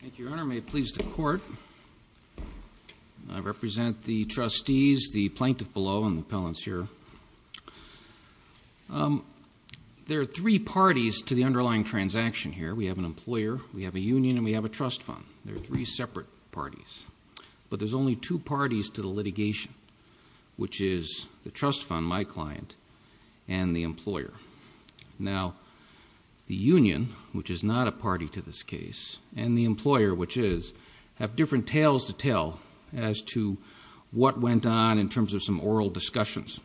Thank you, Your Honor. May it please the Court, I represent the trustees, the plaintiff below, and the appellants here. There are three parties to the underlying transaction here. We have an employer, we have a union, and we have a trust fund. There are three separate parties, but there's only two parties to the litigation, which is the trust fund, my client, and the employer. Now, the union, which is not a party to this case, and the employer, which is, have different tales to tell as to what went on in terms of some oral discussions.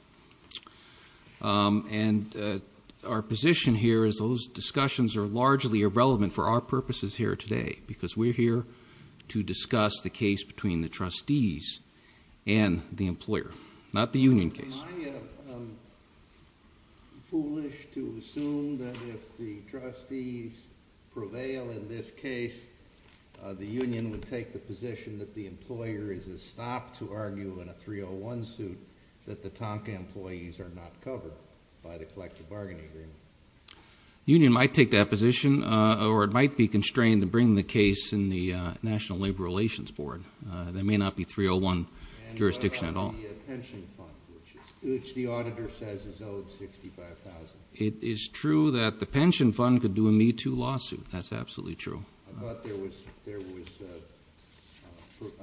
And our position here is those discussions are largely irrelevant for our purposes here today, because we're here to discuss the case between the trustees and the employer, not the union case. Am I foolish to assume that if the trustees prevail in this case, the union would take the position that the employer is a stop to argue in a 301 suit that the Tomka employees are not covered by the collective bargaining agreement? The union might take that position, or it might be constrained to bring the case in the National Labor Relations Board. They may not be 301 jurisdiction at all. And what about the pension fund, which the auditor says is owed $65,000? It is true that the pension fund could do a Me Too lawsuit. That's absolutely true. I thought there was,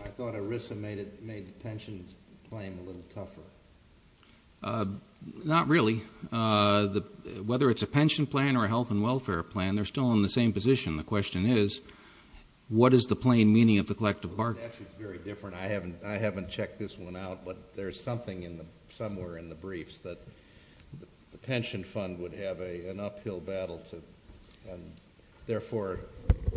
I thought ERISA made the pension claim a little tougher. Not really. Whether it's a pension plan or a health and welfare plan, they're still in the same position. The question is, what is the plain meaning of the collective bargaining agreement? It's actually very different. I haven't checked this one out, but there's something somewhere in the briefs that the pension fund would have an uphill battle. Therefore,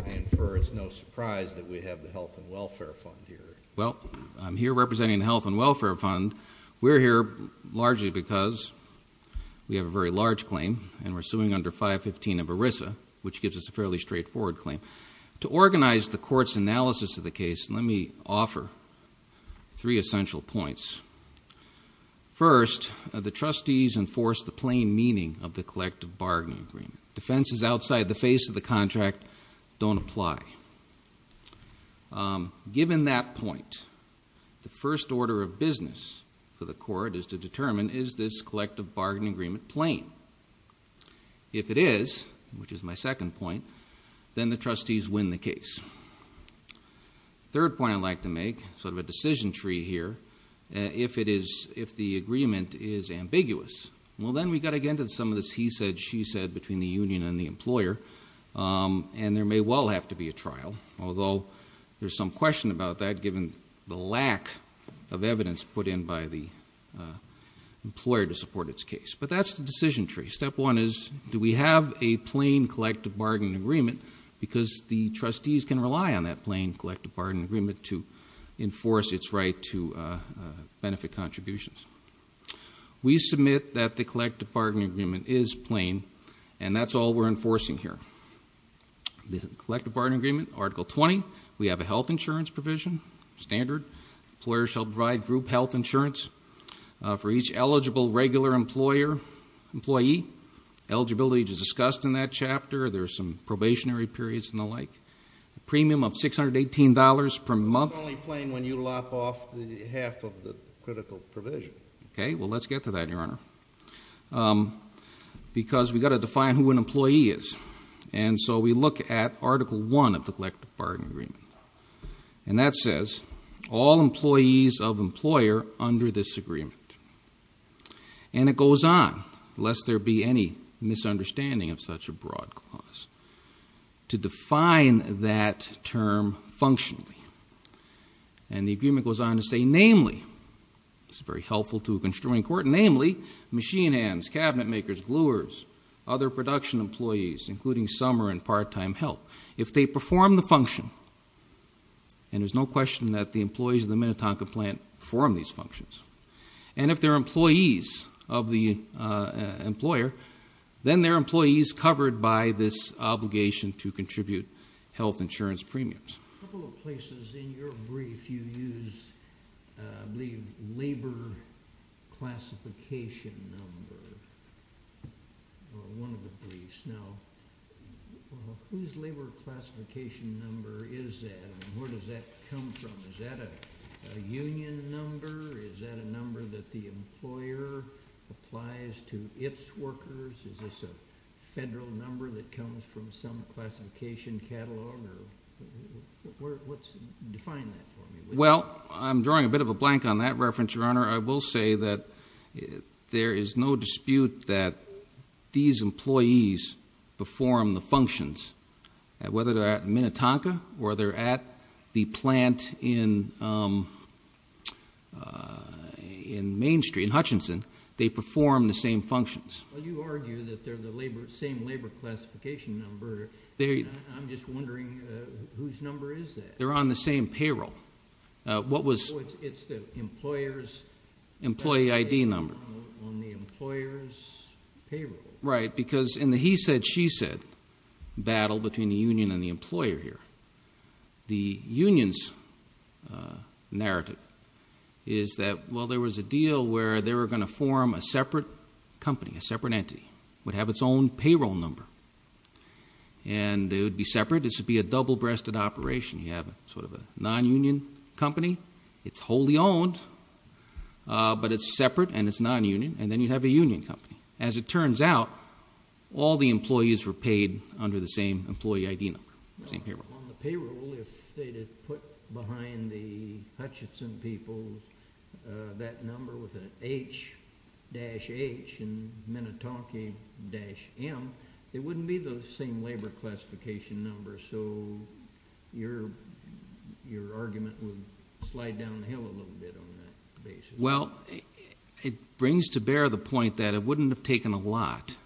I infer it's no surprise that we have the health and welfare fund here. Well, I'm here representing the health and welfare fund. We're here largely because we have a very large claim, and we're suing under 515 of ERISA, which gives us a fairly straightforward claim. To organize the court's analysis of the case, let me offer three essential points. First, the trustees enforce the plain meaning of the collective bargaining agreement. Defenses outside the face of the contract don't apply. Given that point, the first order of business for the court is to determine, is this collective bargaining agreement plain? If it is, which is my second point, then the trustees win the case. Third point I'd like to make, sort of a decision tree here, if the agreement is ambiguous, well, then we've got to get into some of this he said, she said between the union and the employer, and there may well have to be a trial. Although, there's some question about that, given the lack of evidence put in by the employer to support its case. But that's the decision tree. Step one is, do we have a plain collective bargaining agreement? Because the trustees can rely on that plain collective bargaining agreement to enforce its right to benefit contributions. We submit that the collective bargaining agreement is plain, and that's all we're enforcing here. The collective bargaining agreement, article 20, we have a health insurance provision, standard. Employers shall provide group health insurance for each eligible regular employee. Eligibility is discussed in that chapter. There's some probationary periods and the like. Premium of $618 per month. It's only plain when you lop off the half of the critical provision. Okay, well, let's get to that, your honor. Because we've got to define who an employee is. And so we look at article one of the collective bargaining agreement. And that says, all employees of employer under this agreement. And it goes on, lest there be any misunderstanding of such a broad clause. To define that term functionally. And the agreement goes on to say, namely, this is very helpful to a construing court. Namely, machine hands, cabinet makers, gluers, other production employees, including some are in part-time help. If they perform the function, and there's no question that the employees of the Minnetonka plant perform these functions. And if they're employees of the employer, then they're employees covered by this obligation to contribute health insurance premiums. A couple of places in your brief you used, I believe, labor classification number. One of the briefs. Now, whose labor classification number is that? And where does that come from? Is that a union number? Is that a number that the employer applies to its workers? Is this a federal number that comes from some classification catalog? Define that for me. Well, I'm drawing a bit of a blank on that reference, Your Honor. I will say that there is no dispute that these employees perform the functions. Whether they're at Minnetonka or they're at the plant in Main Street, Hutchinson, they perform the same functions. Well, you argue that they're the same labor classification number. I'm just wondering whose number is that? They're on the same payroll. What was- It's the employer's- Employee ID number. On the employer's payroll. Right, because in the he said, she said battle between the union and the employer here, the union's narrative is that, well, there was a deal where they were going to form a separate company, a separate entity. It would have its own payroll number, and it would be separate. This would be a double-breasted operation. You have sort of a non-union company. It's wholly owned, but it's separate and it's non-union, and then you'd have a union company. As it turns out, all the employees were paid under the same employee ID number, same payroll. On the payroll, if they had put behind the Hutchinson people that number with an H-H and Minnetonka-M, it wouldn't be the same labor classification number, so your argument would slide downhill a little bit on that basis. Well, it brings to bear the point that it wouldn't have taken a lot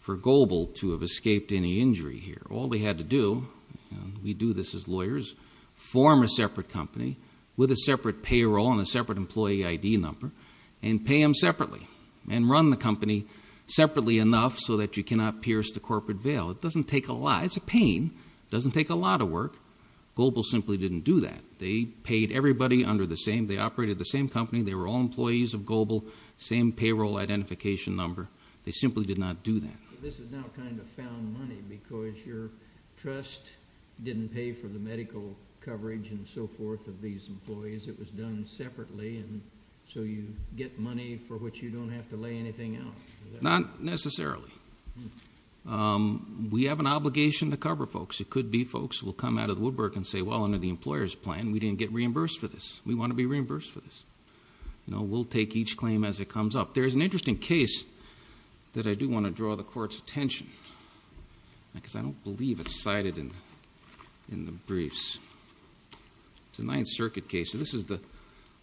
for Goebel to have escaped any injury here. All they had to do, and we do this as lawyers, form a separate company with a separate payroll and a separate employee ID number, and pay them separately, and run the company separately enough so that you cannot pierce the corporate veil. It doesn't take a lot. It's a pain. It doesn't take a lot of work. Goebel simply didn't do that. They paid everybody under the same. They operated the same company. They were all employees of Goebel, same payroll identification number. They simply did not do that. This is now kind of found money because your trust didn't pay for the medical coverage and so forth of these employees. It was done separately, and so you get money for which you don't have to lay anything out. Not necessarily. We have an obligation to cover folks. It could be folks will come out of the woodwork and say, well, under the employer's plan, we didn't get reimbursed for this. We want to be reimbursed for this. We'll take each claim as it comes up. There is an interesting case that I do want to draw the court's attention to because I don't believe it's cited in the briefs. It's a Ninth Circuit case. This is the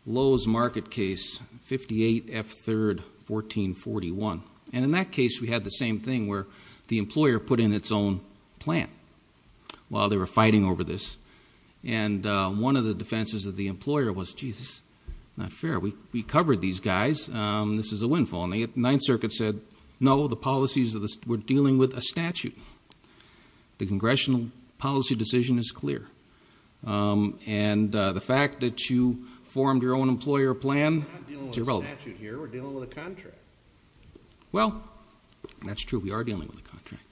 Lowe's Market case, 58F3, 1441. And in that case, we had the same thing where the employer put in its own plan while they were fighting over this. And one of the defenses of the employer was, geez, this is not fair. We covered these guys. This is a windfall. And the Ninth Circuit said, no, the policies were dealing with a statute. The congressional policy decision is clear. And the fact that you formed your own employer plan is irrelevant. We're not dealing with a statute here. We're dealing with a contract. Well, that's true. We are dealing with a contract.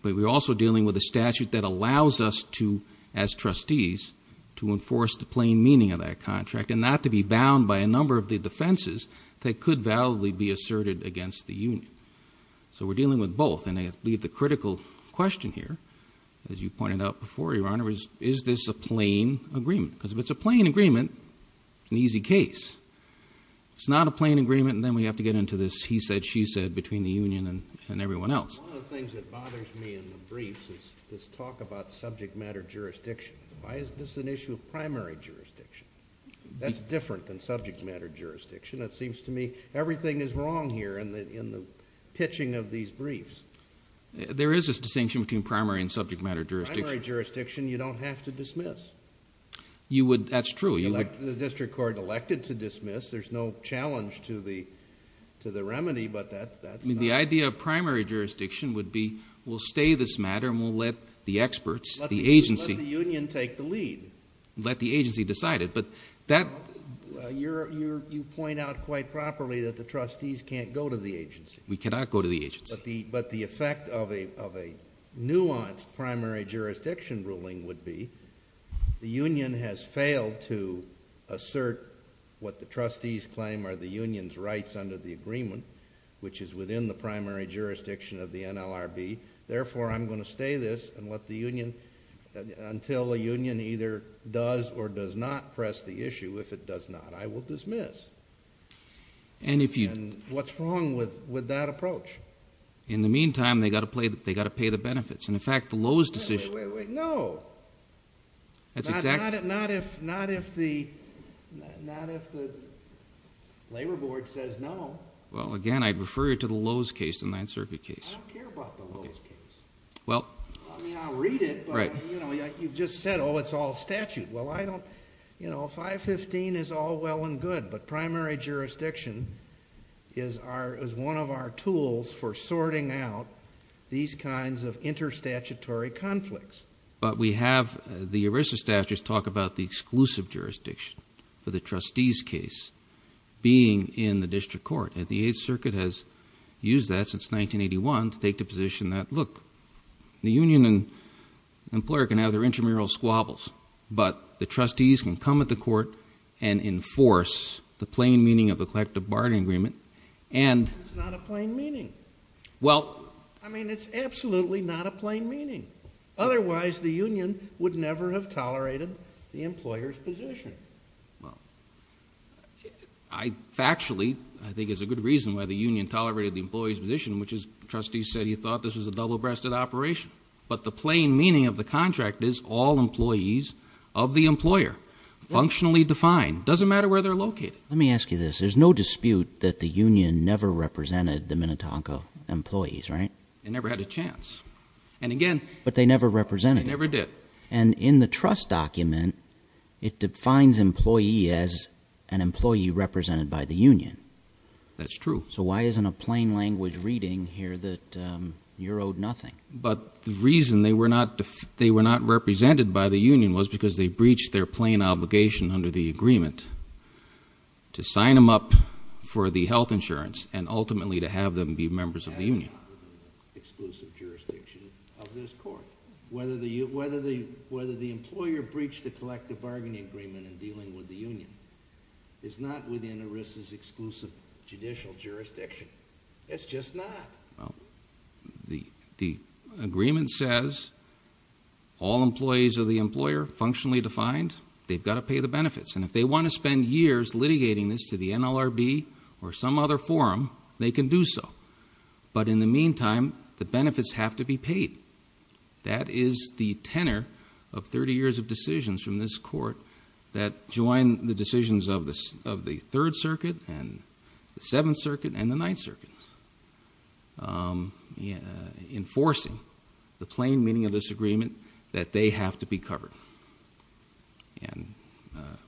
But we're also dealing with a statute that allows us to, as trustees, to enforce the plain meaning of that contract, and not to be bound by a number of the defenses that could validly be asserted against the union. So we're dealing with both. And I believe the critical question here, as you pointed out before, Your Honor, is, is this a plain agreement? Because if it's a plain agreement, it's an easy case. If it's not a plain agreement, then we have to get into this he said, she said between the union and everyone else. One of the things that bothers me in the briefs is this talk about subject matter jurisdiction. Why is this an issue of primary jurisdiction? That's different than subject matter jurisdiction. It seems to me everything is wrong here in the pitching of these briefs. There is this distinction between primary and subject matter jurisdiction. In primary jurisdiction, you don't have to dismiss. That's true. The district court elected to dismiss. There's no challenge to the remedy, but that's not. The idea of primary jurisdiction would be we'll stay this matter and we'll let the experts, the agency. Let the union take the lead. Let the agency decide it. But that. You point out quite properly that the trustees can't go to the agency. We cannot go to the agency. But the effect of a nuanced primary jurisdiction ruling would be the union has failed to assert what the trustees claim are the union's rights under the agreement, which is within the primary jurisdiction of the NLRB. Therefore, I'm going to stay this and let the union until a union either does or does not press the issue. If it does not, I will dismiss. And what's wrong with that approach? In the meantime, they've got to pay the benefits. And in fact, the Lowe's decision. Wait, wait, wait. No. That's exactly. Not if the labor board says no. Well, again, I'd refer you to the Lowe's case, the Ninth Circuit case. I don't care about the Lowe's case. Well. I mean, I'll read it, but you've just said, oh, it's all statute. Well, I don't. You know, 515 is all well and good, but primary jurisdiction is one of our tools for sorting out these kinds of interstatutory conflicts. But we have the ERISA statutes talk about the exclusive jurisdiction for the trustees case being in the district court. And the Eighth Circuit has used that since 1981 to take the position that, look, the union and employer can have their intramural squabbles. But the trustees can come at the court and enforce the plain meaning of the collective bargaining agreement. And. It's not a plain meaning. Well. I mean, it's absolutely not a plain meaning. Otherwise, the union would never have tolerated the employer's position. Well. I, factually, I think there's a good reason why the union tolerated the employee's position, which is trustees said he thought this was a double-breasted operation. But the plain meaning of the contract is all employees of the employer, functionally defined. Doesn't matter where they're located. Let me ask you this. There's no dispute that the union never represented the Minnetonka employees, right? They never had a chance. And again. But they never represented them. They never did. And in the trust document, it defines employee as an employee represented by the union. That's true. So why isn't a plain language reading here that you're owed nothing? But the reason they were not represented by the union was because they breached their plain obligation under the agreement to sign them up for the health insurance and ultimately to have them be members of the union. Exclusive jurisdiction of this court. Whether the employer breached the collective bargaining agreement in dealing with the union is not within ERISA's exclusive judicial jurisdiction. It's just not. The agreement says all employees of the employer, functionally defined. They've got to pay the benefits. And if they want to spend years litigating this to the NLRB or some other forum, they can do so. But in the meantime, the benefits have to be paid. That is the tenor of 30 years of decisions from this court that join the decisions of the Third Circuit and the Seventh Circuit and the Ninth Circuit. Enforcing the plain meaning of this agreement that they have to be covered. And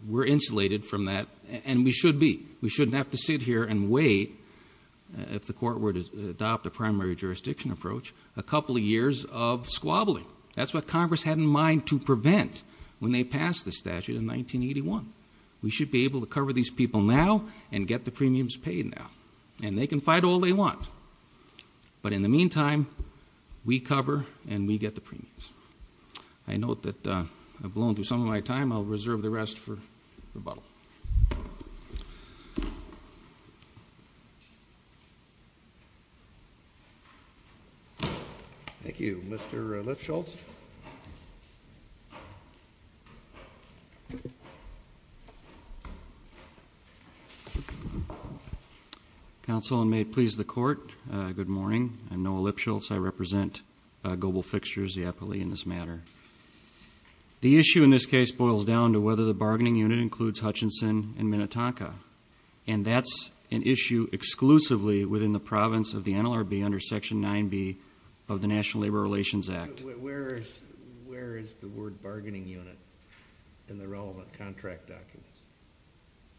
we're insulated from that. And we should be. If the court were to adopt a primary jurisdiction approach, a couple of years of squabbling. That's what Congress had in mind to prevent when they passed the statute in 1981. We should be able to cover these people now and get the premiums paid now. And they can fight all they want. But in the meantime, we cover and we get the premiums. I note that I've blown through some of my time. I'll reserve the rest for rebuttal. Thank you. Mr. Lipschultz. Counsel, and may it please the court, good morning. I'm Noah Lipschultz. I represent Global Fixtures, the epitome in this matter. The issue in this case boils down to whether the bargaining unit includes Hutchinson and Minnetonka. And that's an issue exclusively within the province of the NLRB under Section 9B of the National Labor Relations Act. Where is the word bargaining unit in the relevant contract documents?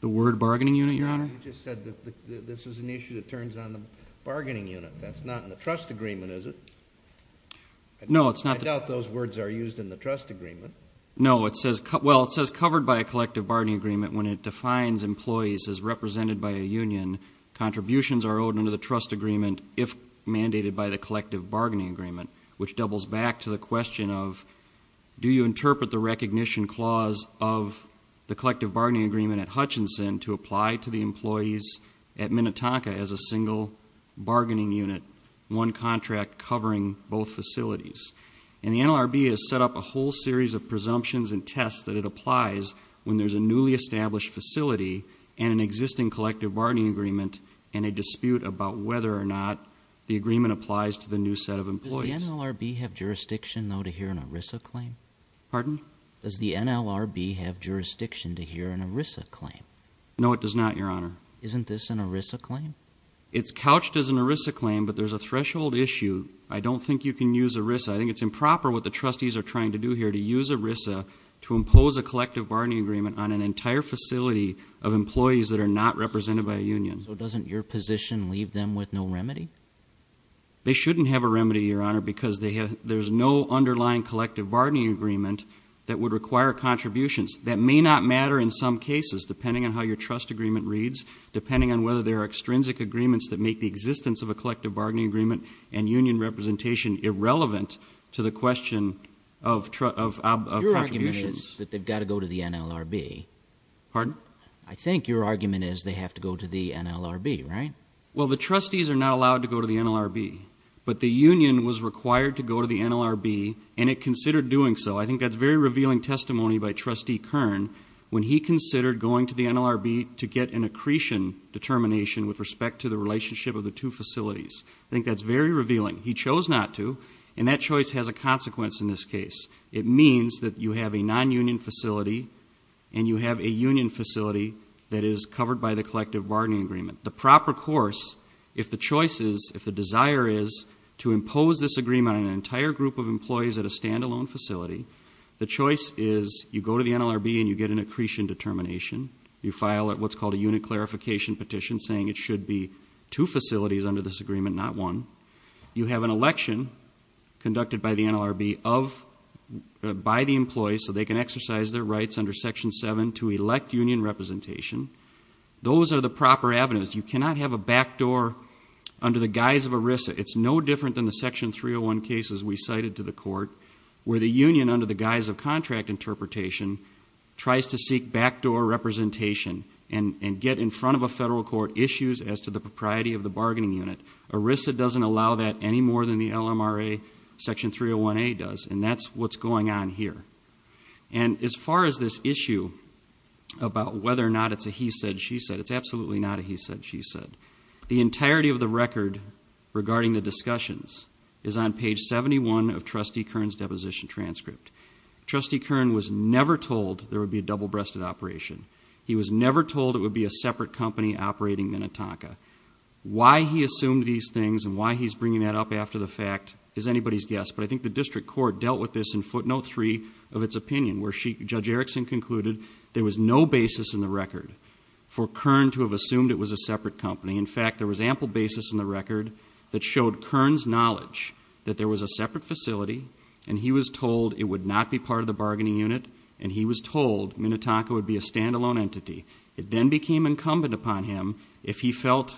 The word bargaining unit, Your Honor? You just said that this is an issue that turns on the bargaining unit. That's not in the trust agreement, is it? No, it's not. I doubt those words are used in the trust agreement. No. Well, it says covered by a collective bargaining agreement when it defines employees as represented by a union. Contributions are owed under the trust agreement if mandated by the collective bargaining agreement, which doubles back to the question of do you interpret the recognition clause of the collective bargaining agreement at Hutchinson to apply to the employees at Minnetonka as a single bargaining unit, one contract covering both facilities. And the NLRB has set up a whole series of presumptions and tests that it applies when there's a newly established facility and an existing collective bargaining agreement and a dispute about whether or not the agreement applies to the new set of employees. Does the NLRB have jurisdiction, though, to hear an ERISA claim? Pardon? Does the NLRB have jurisdiction to hear an ERISA claim? No, it does not, Your Honor. Isn't this an ERISA claim? It's couched as an ERISA claim, but there's a threshold issue. I don't think you can use ERISA. I think it's improper what the trustees are trying to do here to use ERISA to impose a collective bargaining agreement on an entire facility of employees that are not represented by a union. So doesn't your position leave them with no remedy? They shouldn't have a remedy, Your Honor, because there's no underlying collective bargaining agreement that would require contributions. That may not matter in some cases, depending on how your trust agreement reads, depending on whether there are extrinsic agreements that make the existence of a collective bargaining agreement and union representation irrelevant to the question of contributions. Your argument is that they've got to go to the NLRB. Pardon? I think your argument is they have to go to the NLRB, right? Well, the trustees are not allowed to go to the NLRB, but the union was required to go to the NLRB, and it considered doing so. I think that's very revealing testimony by Trustee Kern when he considered going to the NLRB to get an accretion determination with respect to the relationship of the two facilities. I think that's very revealing. He chose not to, and that choice has a consequence in this case. It means that you have a non-union facility, and you have a union facility that is covered by the collective bargaining agreement. The proper course, if the choice is, if the desire is, to impose this agreement on an entire group of employees at a stand-alone facility, the choice is you go to the NLRB and you get an accretion determination. You file what's called a unit clarification petition saying it should be two facilities under this agreement, not one. You have an election conducted by the NLRB by the employees so they can exercise their rights under Section 7 to elect union representation. Those are the proper avenues. You cannot have a backdoor under the guise of ERISA. It's no different than the Section 301 cases we cited to the court where the union under the guise of contract interpretation tries to seek backdoor representation and get in front of a federal court issues as to the propriety of the bargaining unit. ERISA doesn't allow that any more than the LMRA Section 301A does, and that's what's going on here. And as far as this issue about whether or not it's a he said, she said, it's absolutely not a he said, she said. The entirety of the record regarding the discussions is on page 71 of Trustee Kern's deposition transcript. Trustee Kern was never told there would be a double-breasted operation. He was never told it would be a separate company operating Minnetonka. Why he assumed these things and why he's bringing that up after the fact is anybody's guess, but I think the district court dealt with this in footnote three of its opinion where Judge Erickson concluded there was no basis in the record for Kern to have assumed it was a separate company. In fact, there was ample basis in the record that showed Kern's knowledge that there was a separate facility and he was told it would not be part of the bargaining unit and he was told Minnetonka would be a stand-alone entity. It then became incumbent upon him if he felt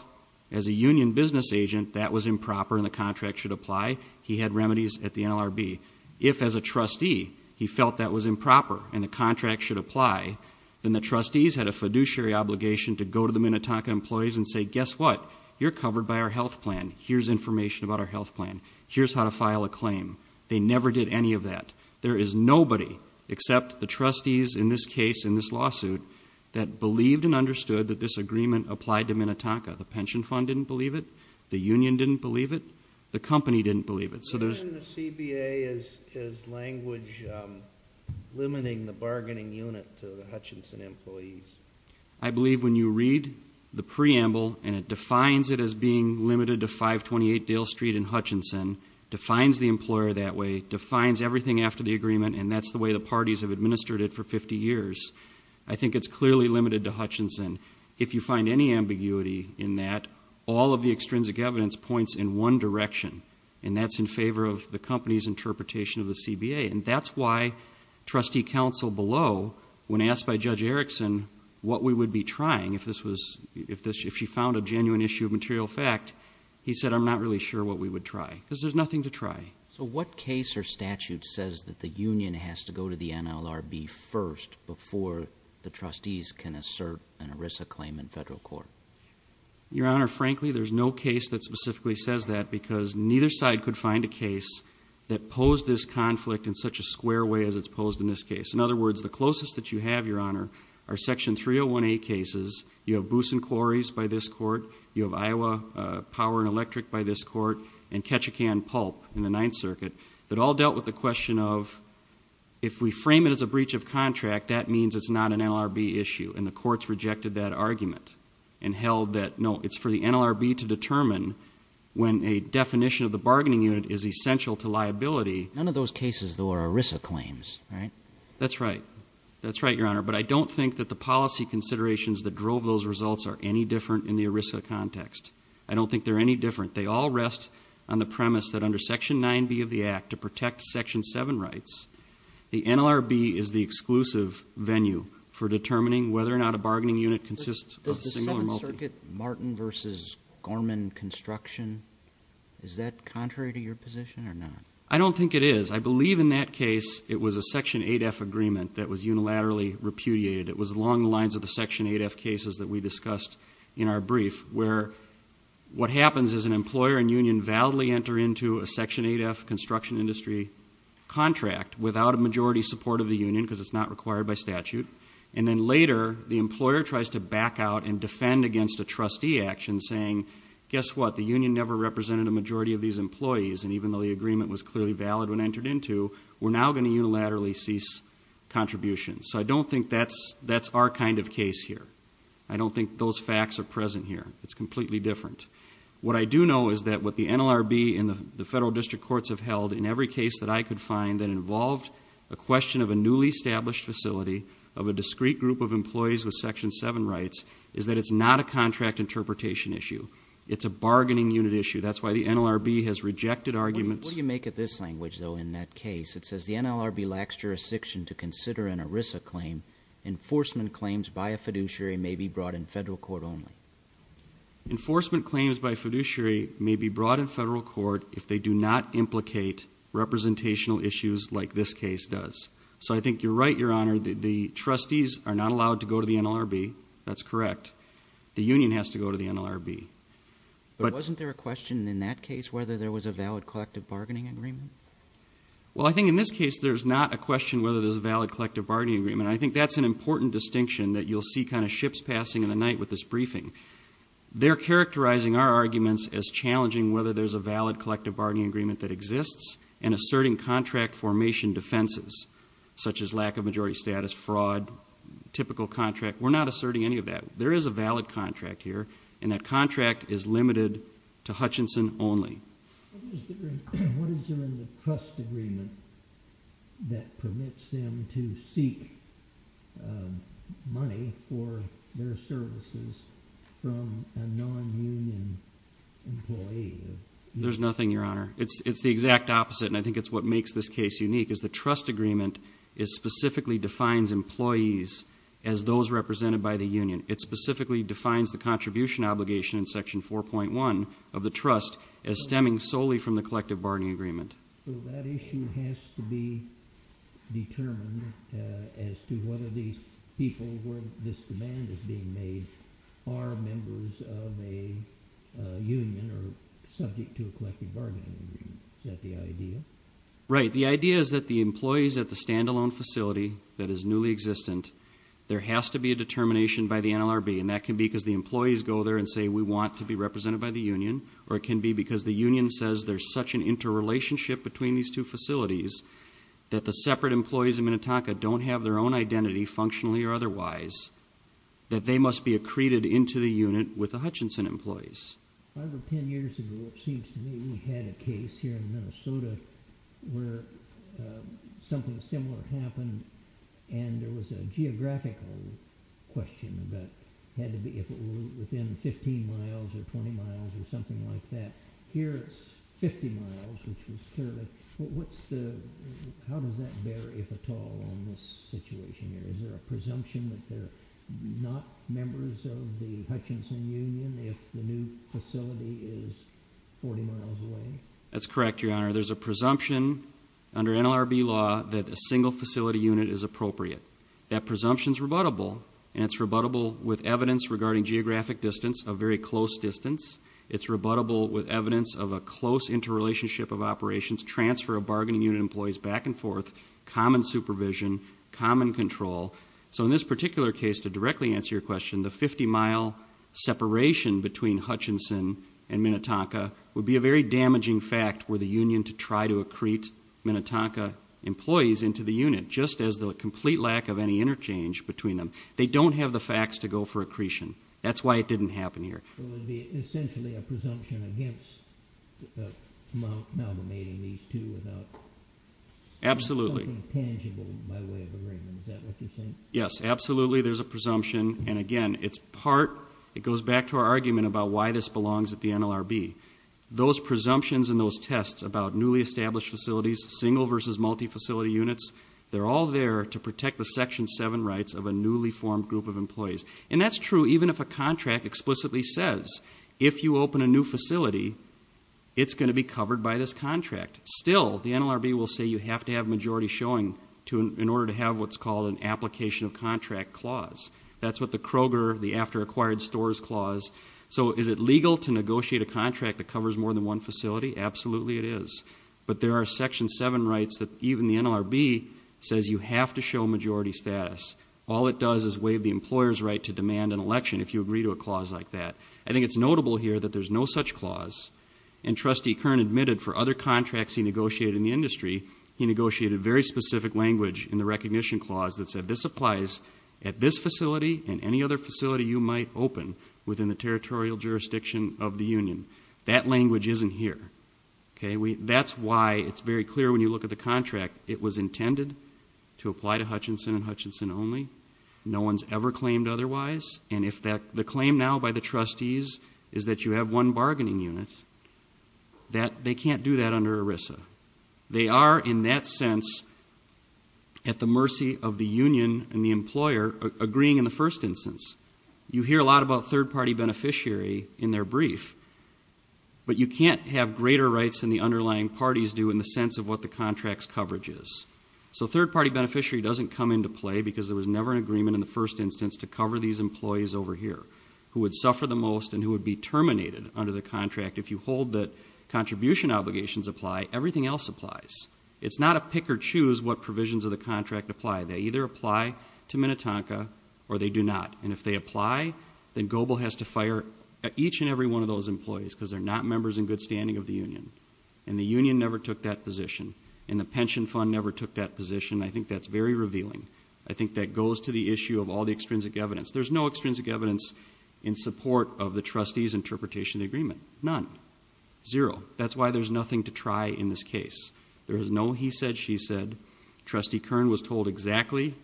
as a union business agent that was improper and the contract should apply, he had remedies at the NLRB. If as a trustee he felt that was improper and the contract should apply, then the trustees had a fiduciary obligation to go to the Minnetonka employees and say, guess what? You're covered by our health plan. Here's information about our health plan. Here's how to file a claim. They never did any of that. There is nobody except the trustees in this case, in this lawsuit, that believed and understood that this agreement applied to Minnetonka. The pension fund didn't believe it. The union didn't believe it. The company didn't believe it. So there's... Even the CBA is language limiting the bargaining unit to the Hutchinson employees. I believe when you read the preamble and it defines it as being limited to 528 Dale Street in Hutchinson, defines the employer that way, defines everything after the agreement, and that's the way the parties have administered it for 50 years, I think it's clearly limited to Hutchinson. If you find any ambiguity in that, all of the extrinsic evidence points in one direction, and that's in favor of the company's interpretation of the CBA. And that's why trustee counsel below, when asked by Judge Erickson what we would be trying, if she found a genuine issue of material fact, he said, I'm not really sure what we would try, because there's nothing to try. So what case or statute says that the union has to go to the NLRB first before the trustees can assert an ERISA claim in federal court? Your Honor, frankly, there's no case that specifically says that, because neither side could find a case that posed this conflict in such a square way as it's posed in this case. In other words, the closest that you have, Your Honor, are Section 301A cases. You have Booson Quarries by this court. You have Iowa Power and Electric by this court and Ketchikan Pulp in the Ninth Circuit that all dealt with the question of, if we frame it as a breach of contract, that means it's not an NLRB issue. And the courts rejected that argument and held that, no, it's for the NLRB to determine when a definition of the bargaining unit is essential to liability. None of those cases, though, are ERISA claims, right? That's right. That's right, Your Honor. But I don't think that the policy considerations that drove those results are any different in the ERISA context. I don't think they're any different. They all rest on the premise that under Section 9B of the Act, to protect Section 7 rights, the NLRB is the exclusive venue for determining whether or not a bargaining unit consists of a single or multi. Does the Seventh Circuit, Martin v. Gorman Construction, is that contrary to your position or not? I don't think it is. I believe in that case it was a Section 8F agreement that was unilaterally repudiated. It was along the lines of the Section 8F cases that we discussed in our brief, where what happens is an employer and union validly enter into a Section 8F construction industry contract without a majority support of the union because it's not required by statute, and then later the employer tries to back out and defend against a trustee action saying, guess what, the union never represented a majority of these employees, and even though the agreement was clearly valid when entered into, we're now going to unilaterally cease contributions. So I don't think that's our kind of case here. I don't think those facts are present here. It's completely different. What I do know is that what the NLRB and the federal district courts have held in every case that I could find that involved a question of a newly established facility of a discrete group of employees with Section 7 rights is that it's not a contract interpretation issue. It's a bargaining unit issue. That's why the NLRB has rejected arguments. What do you make of this language, though, in that case? It says the NLRB lacks jurisdiction to consider an ERISA claim. Enforcement claims by a fiduciary may be brought in federal court only. Enforcement claims by a fiduciary may be brought in federal court if they do not implicate representational issues like this case does. So I think you're right, Your Honor. The trustees are not allowed to go to the NLRB. That's correct. The union has to go to the NLRB. But wasn't there a question in that case whether there was a valid collective bargaining agreement? Well, I think in this case there's not a question whether there's a valid collective bargaining agreement. I think that's an important distinction that you'll see kind of ships passing in the night with this briefing. They're characterizing our arguments as challenging whether there's a valid collective bargaining agreement that exists and asserting contract formation defenses such as lack of majority status, fraud, typical contract. We're not asserting any of that. There is a valid contract here, and that contract is limited to Hutchinson only. What is there in the trust agreement that permits them to seek money for their services from a non-union employee? There's nothing, Your Honor. It's the exact opposite, and I think it's what makes this case unique, is the trust agreement specifically defines employees as those represented by the union. It specifically defines the contribution obligation in Section 4.1 of the trust as stemming solely from the collective bargaining agreement. So that issue has to be determined as to whether these people where this demand is being made are members of a union or subject to a collective bargaining agreement. Is that the idea? Right. The idea is that the employees at the standalone facility that is newly existent, there has to be a determination by the NLRB, and that can be because the employees go there and say we want to be represented by the union, or it can be because the union says there's such an interrelationship between these two facilities that the separate employees in Minnetonka don't have their own identity, functionally or otherwise, that they must be accreted into the unit with the Hutchinson employees. Five or ten years ago, it seems to me, we had a case here in Minnesota where something similar happened, and there was a geographical question about if it was within 15 miles or 20 miles or something like that. Here it's 50 miles, which is clearly, how does that bear, if at all, on this situation here? Is there a presumption that they're not members of the Hutchinson union if the new facility is 40 miles away? That's correct, Your Honor. There's a presumption under NLRB law that a single facility unit is appropriate. That presumption is rebuttable, and it's rebuttable with evidence regarding geographic distance, a very close distance. It's rebuttable with evidence of a close interrelationship of operations, transfer of bargaining unit employees back and forth, common supervision, common control. So in this particular case, to directly answer your question, the 50-mile separation between Hutchinson and Minnetonka would be a very damaging fact were the union to try to accrete Minnetonka employees into the unit, just as the complete lack of any interchange between them. They don't have the facts to go for accretion. That's why it didn't happen here. So it would be essentially a presumption against malgamating these two without something tangible, by way of agreement. Is that what you're saying? Yes, absolutely, there's a presumption. And again, it goes back to our argument about why this belongs at the NLRB. Those presumptions and those tests about newly established facilities, single versus multifacility units, they're all there to protect the Section 7 rights of a newly formed group of employees. And that's true even if a contract explicitly says, if you open a new facility, it's going to be covered by this contract. Still, the NLRB will say you have to have majority showing in order to have what's called an application of contract clause. That's what the Kroger, the after acquired stores clause. So is it legal to negotiate a contract that covers more than one facility? Absolutely it is. But there are Section 7 rights that even the NLRB says you have to show majority status. All it does is waive the employer's right to demand an election if you agree to a clause like that. I think it's notable here that there's no such clause. And Trustee Kern admitted for other contracts he negotiated in the industry, he negotiated very specific language in the recognition clause that said, this applies at this facility and any other facility you might open within the territorial jurisdiction of the union. That language isn't here. That's why it's very clear when you look at the contract, it was intended to apply to Hutchinson and Hutchinson only. No one's ever claimed otherwise. And if the claim now by the trustees is that you have one bargaining unit, they can't do that under ERISA. They are in that sense at the mercy of the union and the employer agreeing in the first instance. You hear a lot about third party beneficiary in their brief, but you can't have greater rights than the underlying parties do in the sense of what the contract's coverage is. So third party beneficiary doesn't come into play because there was never an agreement in the first instance to cover these employees over here who would suffer the most and who would be terminated under the contract. If you hold that contribution obligations apply, everything else applies. It's not a pick or choose what provisions of the contract apply. They either apply to Minnetonka or they do not. And if they apply, then GOBL has to fire each and every one of those employees because they're not members in good standing of the union. And the union never took that position. And the pension fund never took that position. I think that's very revealing. I think that goes to the issue of all the extrinsic evidence. There's no extrinsic evidence in support of the trustee's interpretation of the agreement. None. Zero. That's why there's nothing to try in this case. There is no he said, she said. Trustee Kern was told exactly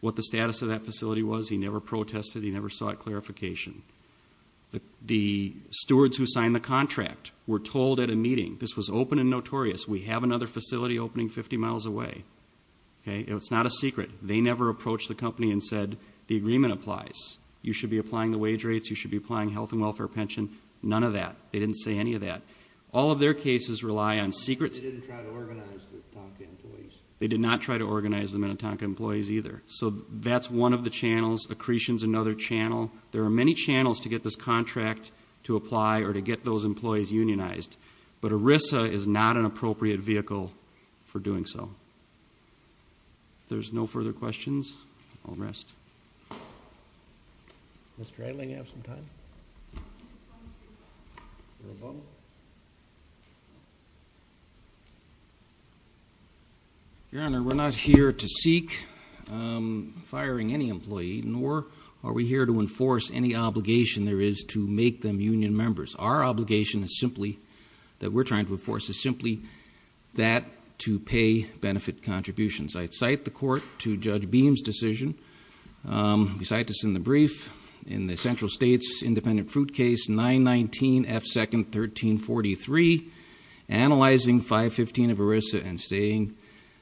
what the status of that facility was. He never protested. He never sought clarification. The stewards who signed the contract were told at a meeting, this was open and notorious, we have another facility opening 50 miles away. It's not a secret. They never approached the company and said the agreement applies. You should be applying the wage rates. You should be applying health and welfare pension. None of that. They didn't say any of that. All of their cases rely on secret. They didn't try to organize the Minnetonka employees. They did not try to organize the Minnetonka employees either. So that's one of the channels. Accretion's another channel. There are many channels to get this contract to apply or to get those employees unionized. But ERISA is not an appropriate vehicle for doing so. If there's no further questions, I'll rest. Mr. Eiling, do you have some time? Your Honor, we're not here to seek firing any employee, nor are we here to enforce any obligation there is to make them union members. Our obligation is simply that we're trying to enforce is simply that to pay benefit contributions. I cite the court to Judge Beam's decision. We cite this in the brief in the Central States Independent Fruit Case 919F2nd 1343, analyzing 515 of ERISA and saying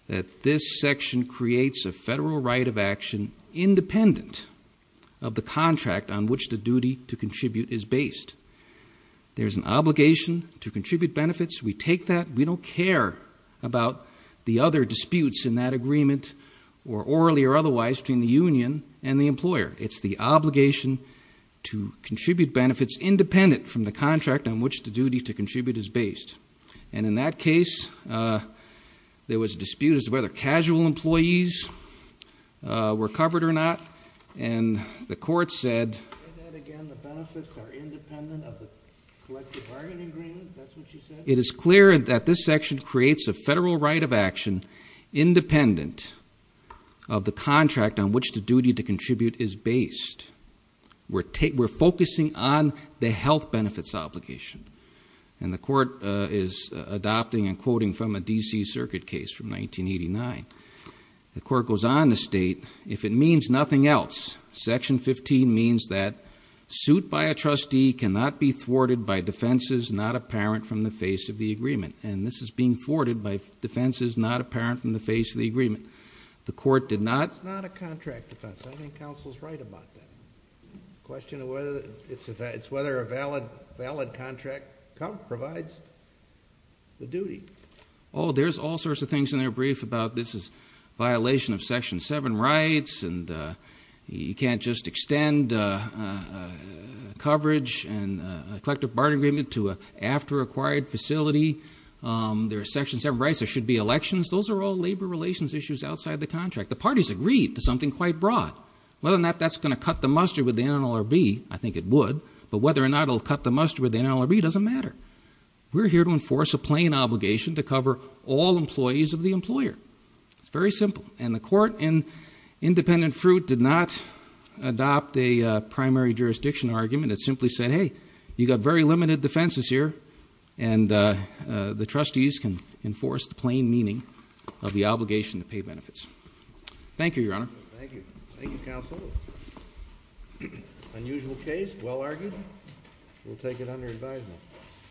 that this section creates a federal right of action independent of the contract on which the duty to contribute is based. There's an obligation to contribute benefits. We take that. We don't care about the other disputes in that agreement, or orally or otherwise, between the union and the employer. It's the obligation to contribute benefits independent from the contract on which the duty to contribute is based. And in that case, there was a dispute as to whether casual employees were covered or not, and the court said it is clear that this section creates a federal right of action independent of the contract on which the duty to contribute is based. We're focusing on the health benefits obligation, and the court is adopting and quoting from a D.C. Circuit case from 1989. The court goes on to state, if it means nothing else, Section 15 means that suit by a trustee cannot be thwarted by defenses not apparent from the face of the agreement. And this is being thwarted by defenses not apparent from the face of the agreement. The court did not... It's not a contract defense. I think counsel's right about that. The question is whether a valid contract provides the duty. Oh, there's all sorts of things in their brief about this is violation of Section 7 rights, and you can't just extend coverage and collective bargaining agreement to an after-acquired facility. There are Section 7 rights. There should be elections. Those are all labor relations issues outside the contract. The parties agreed to something quite broad. Whether or not that's going to cut the mustard with the NLRB, I think it would, but whether or not it'll cut the mustard with the NLRB doesn't matter. We're here to enforce a plain obligation to cover all employees of the employer. It's very simple. And the court, in independent fruit, did not adopt a primary jurisdiction argument. It simply said, hey, you've got very limited defenses here, and the trustees can enforce the plain meaning of the obligation to pay benefits. Thank you, Your Honor. Thank you. Thank you, counsel. Unusual case. Well argued. We'll take it under advisement.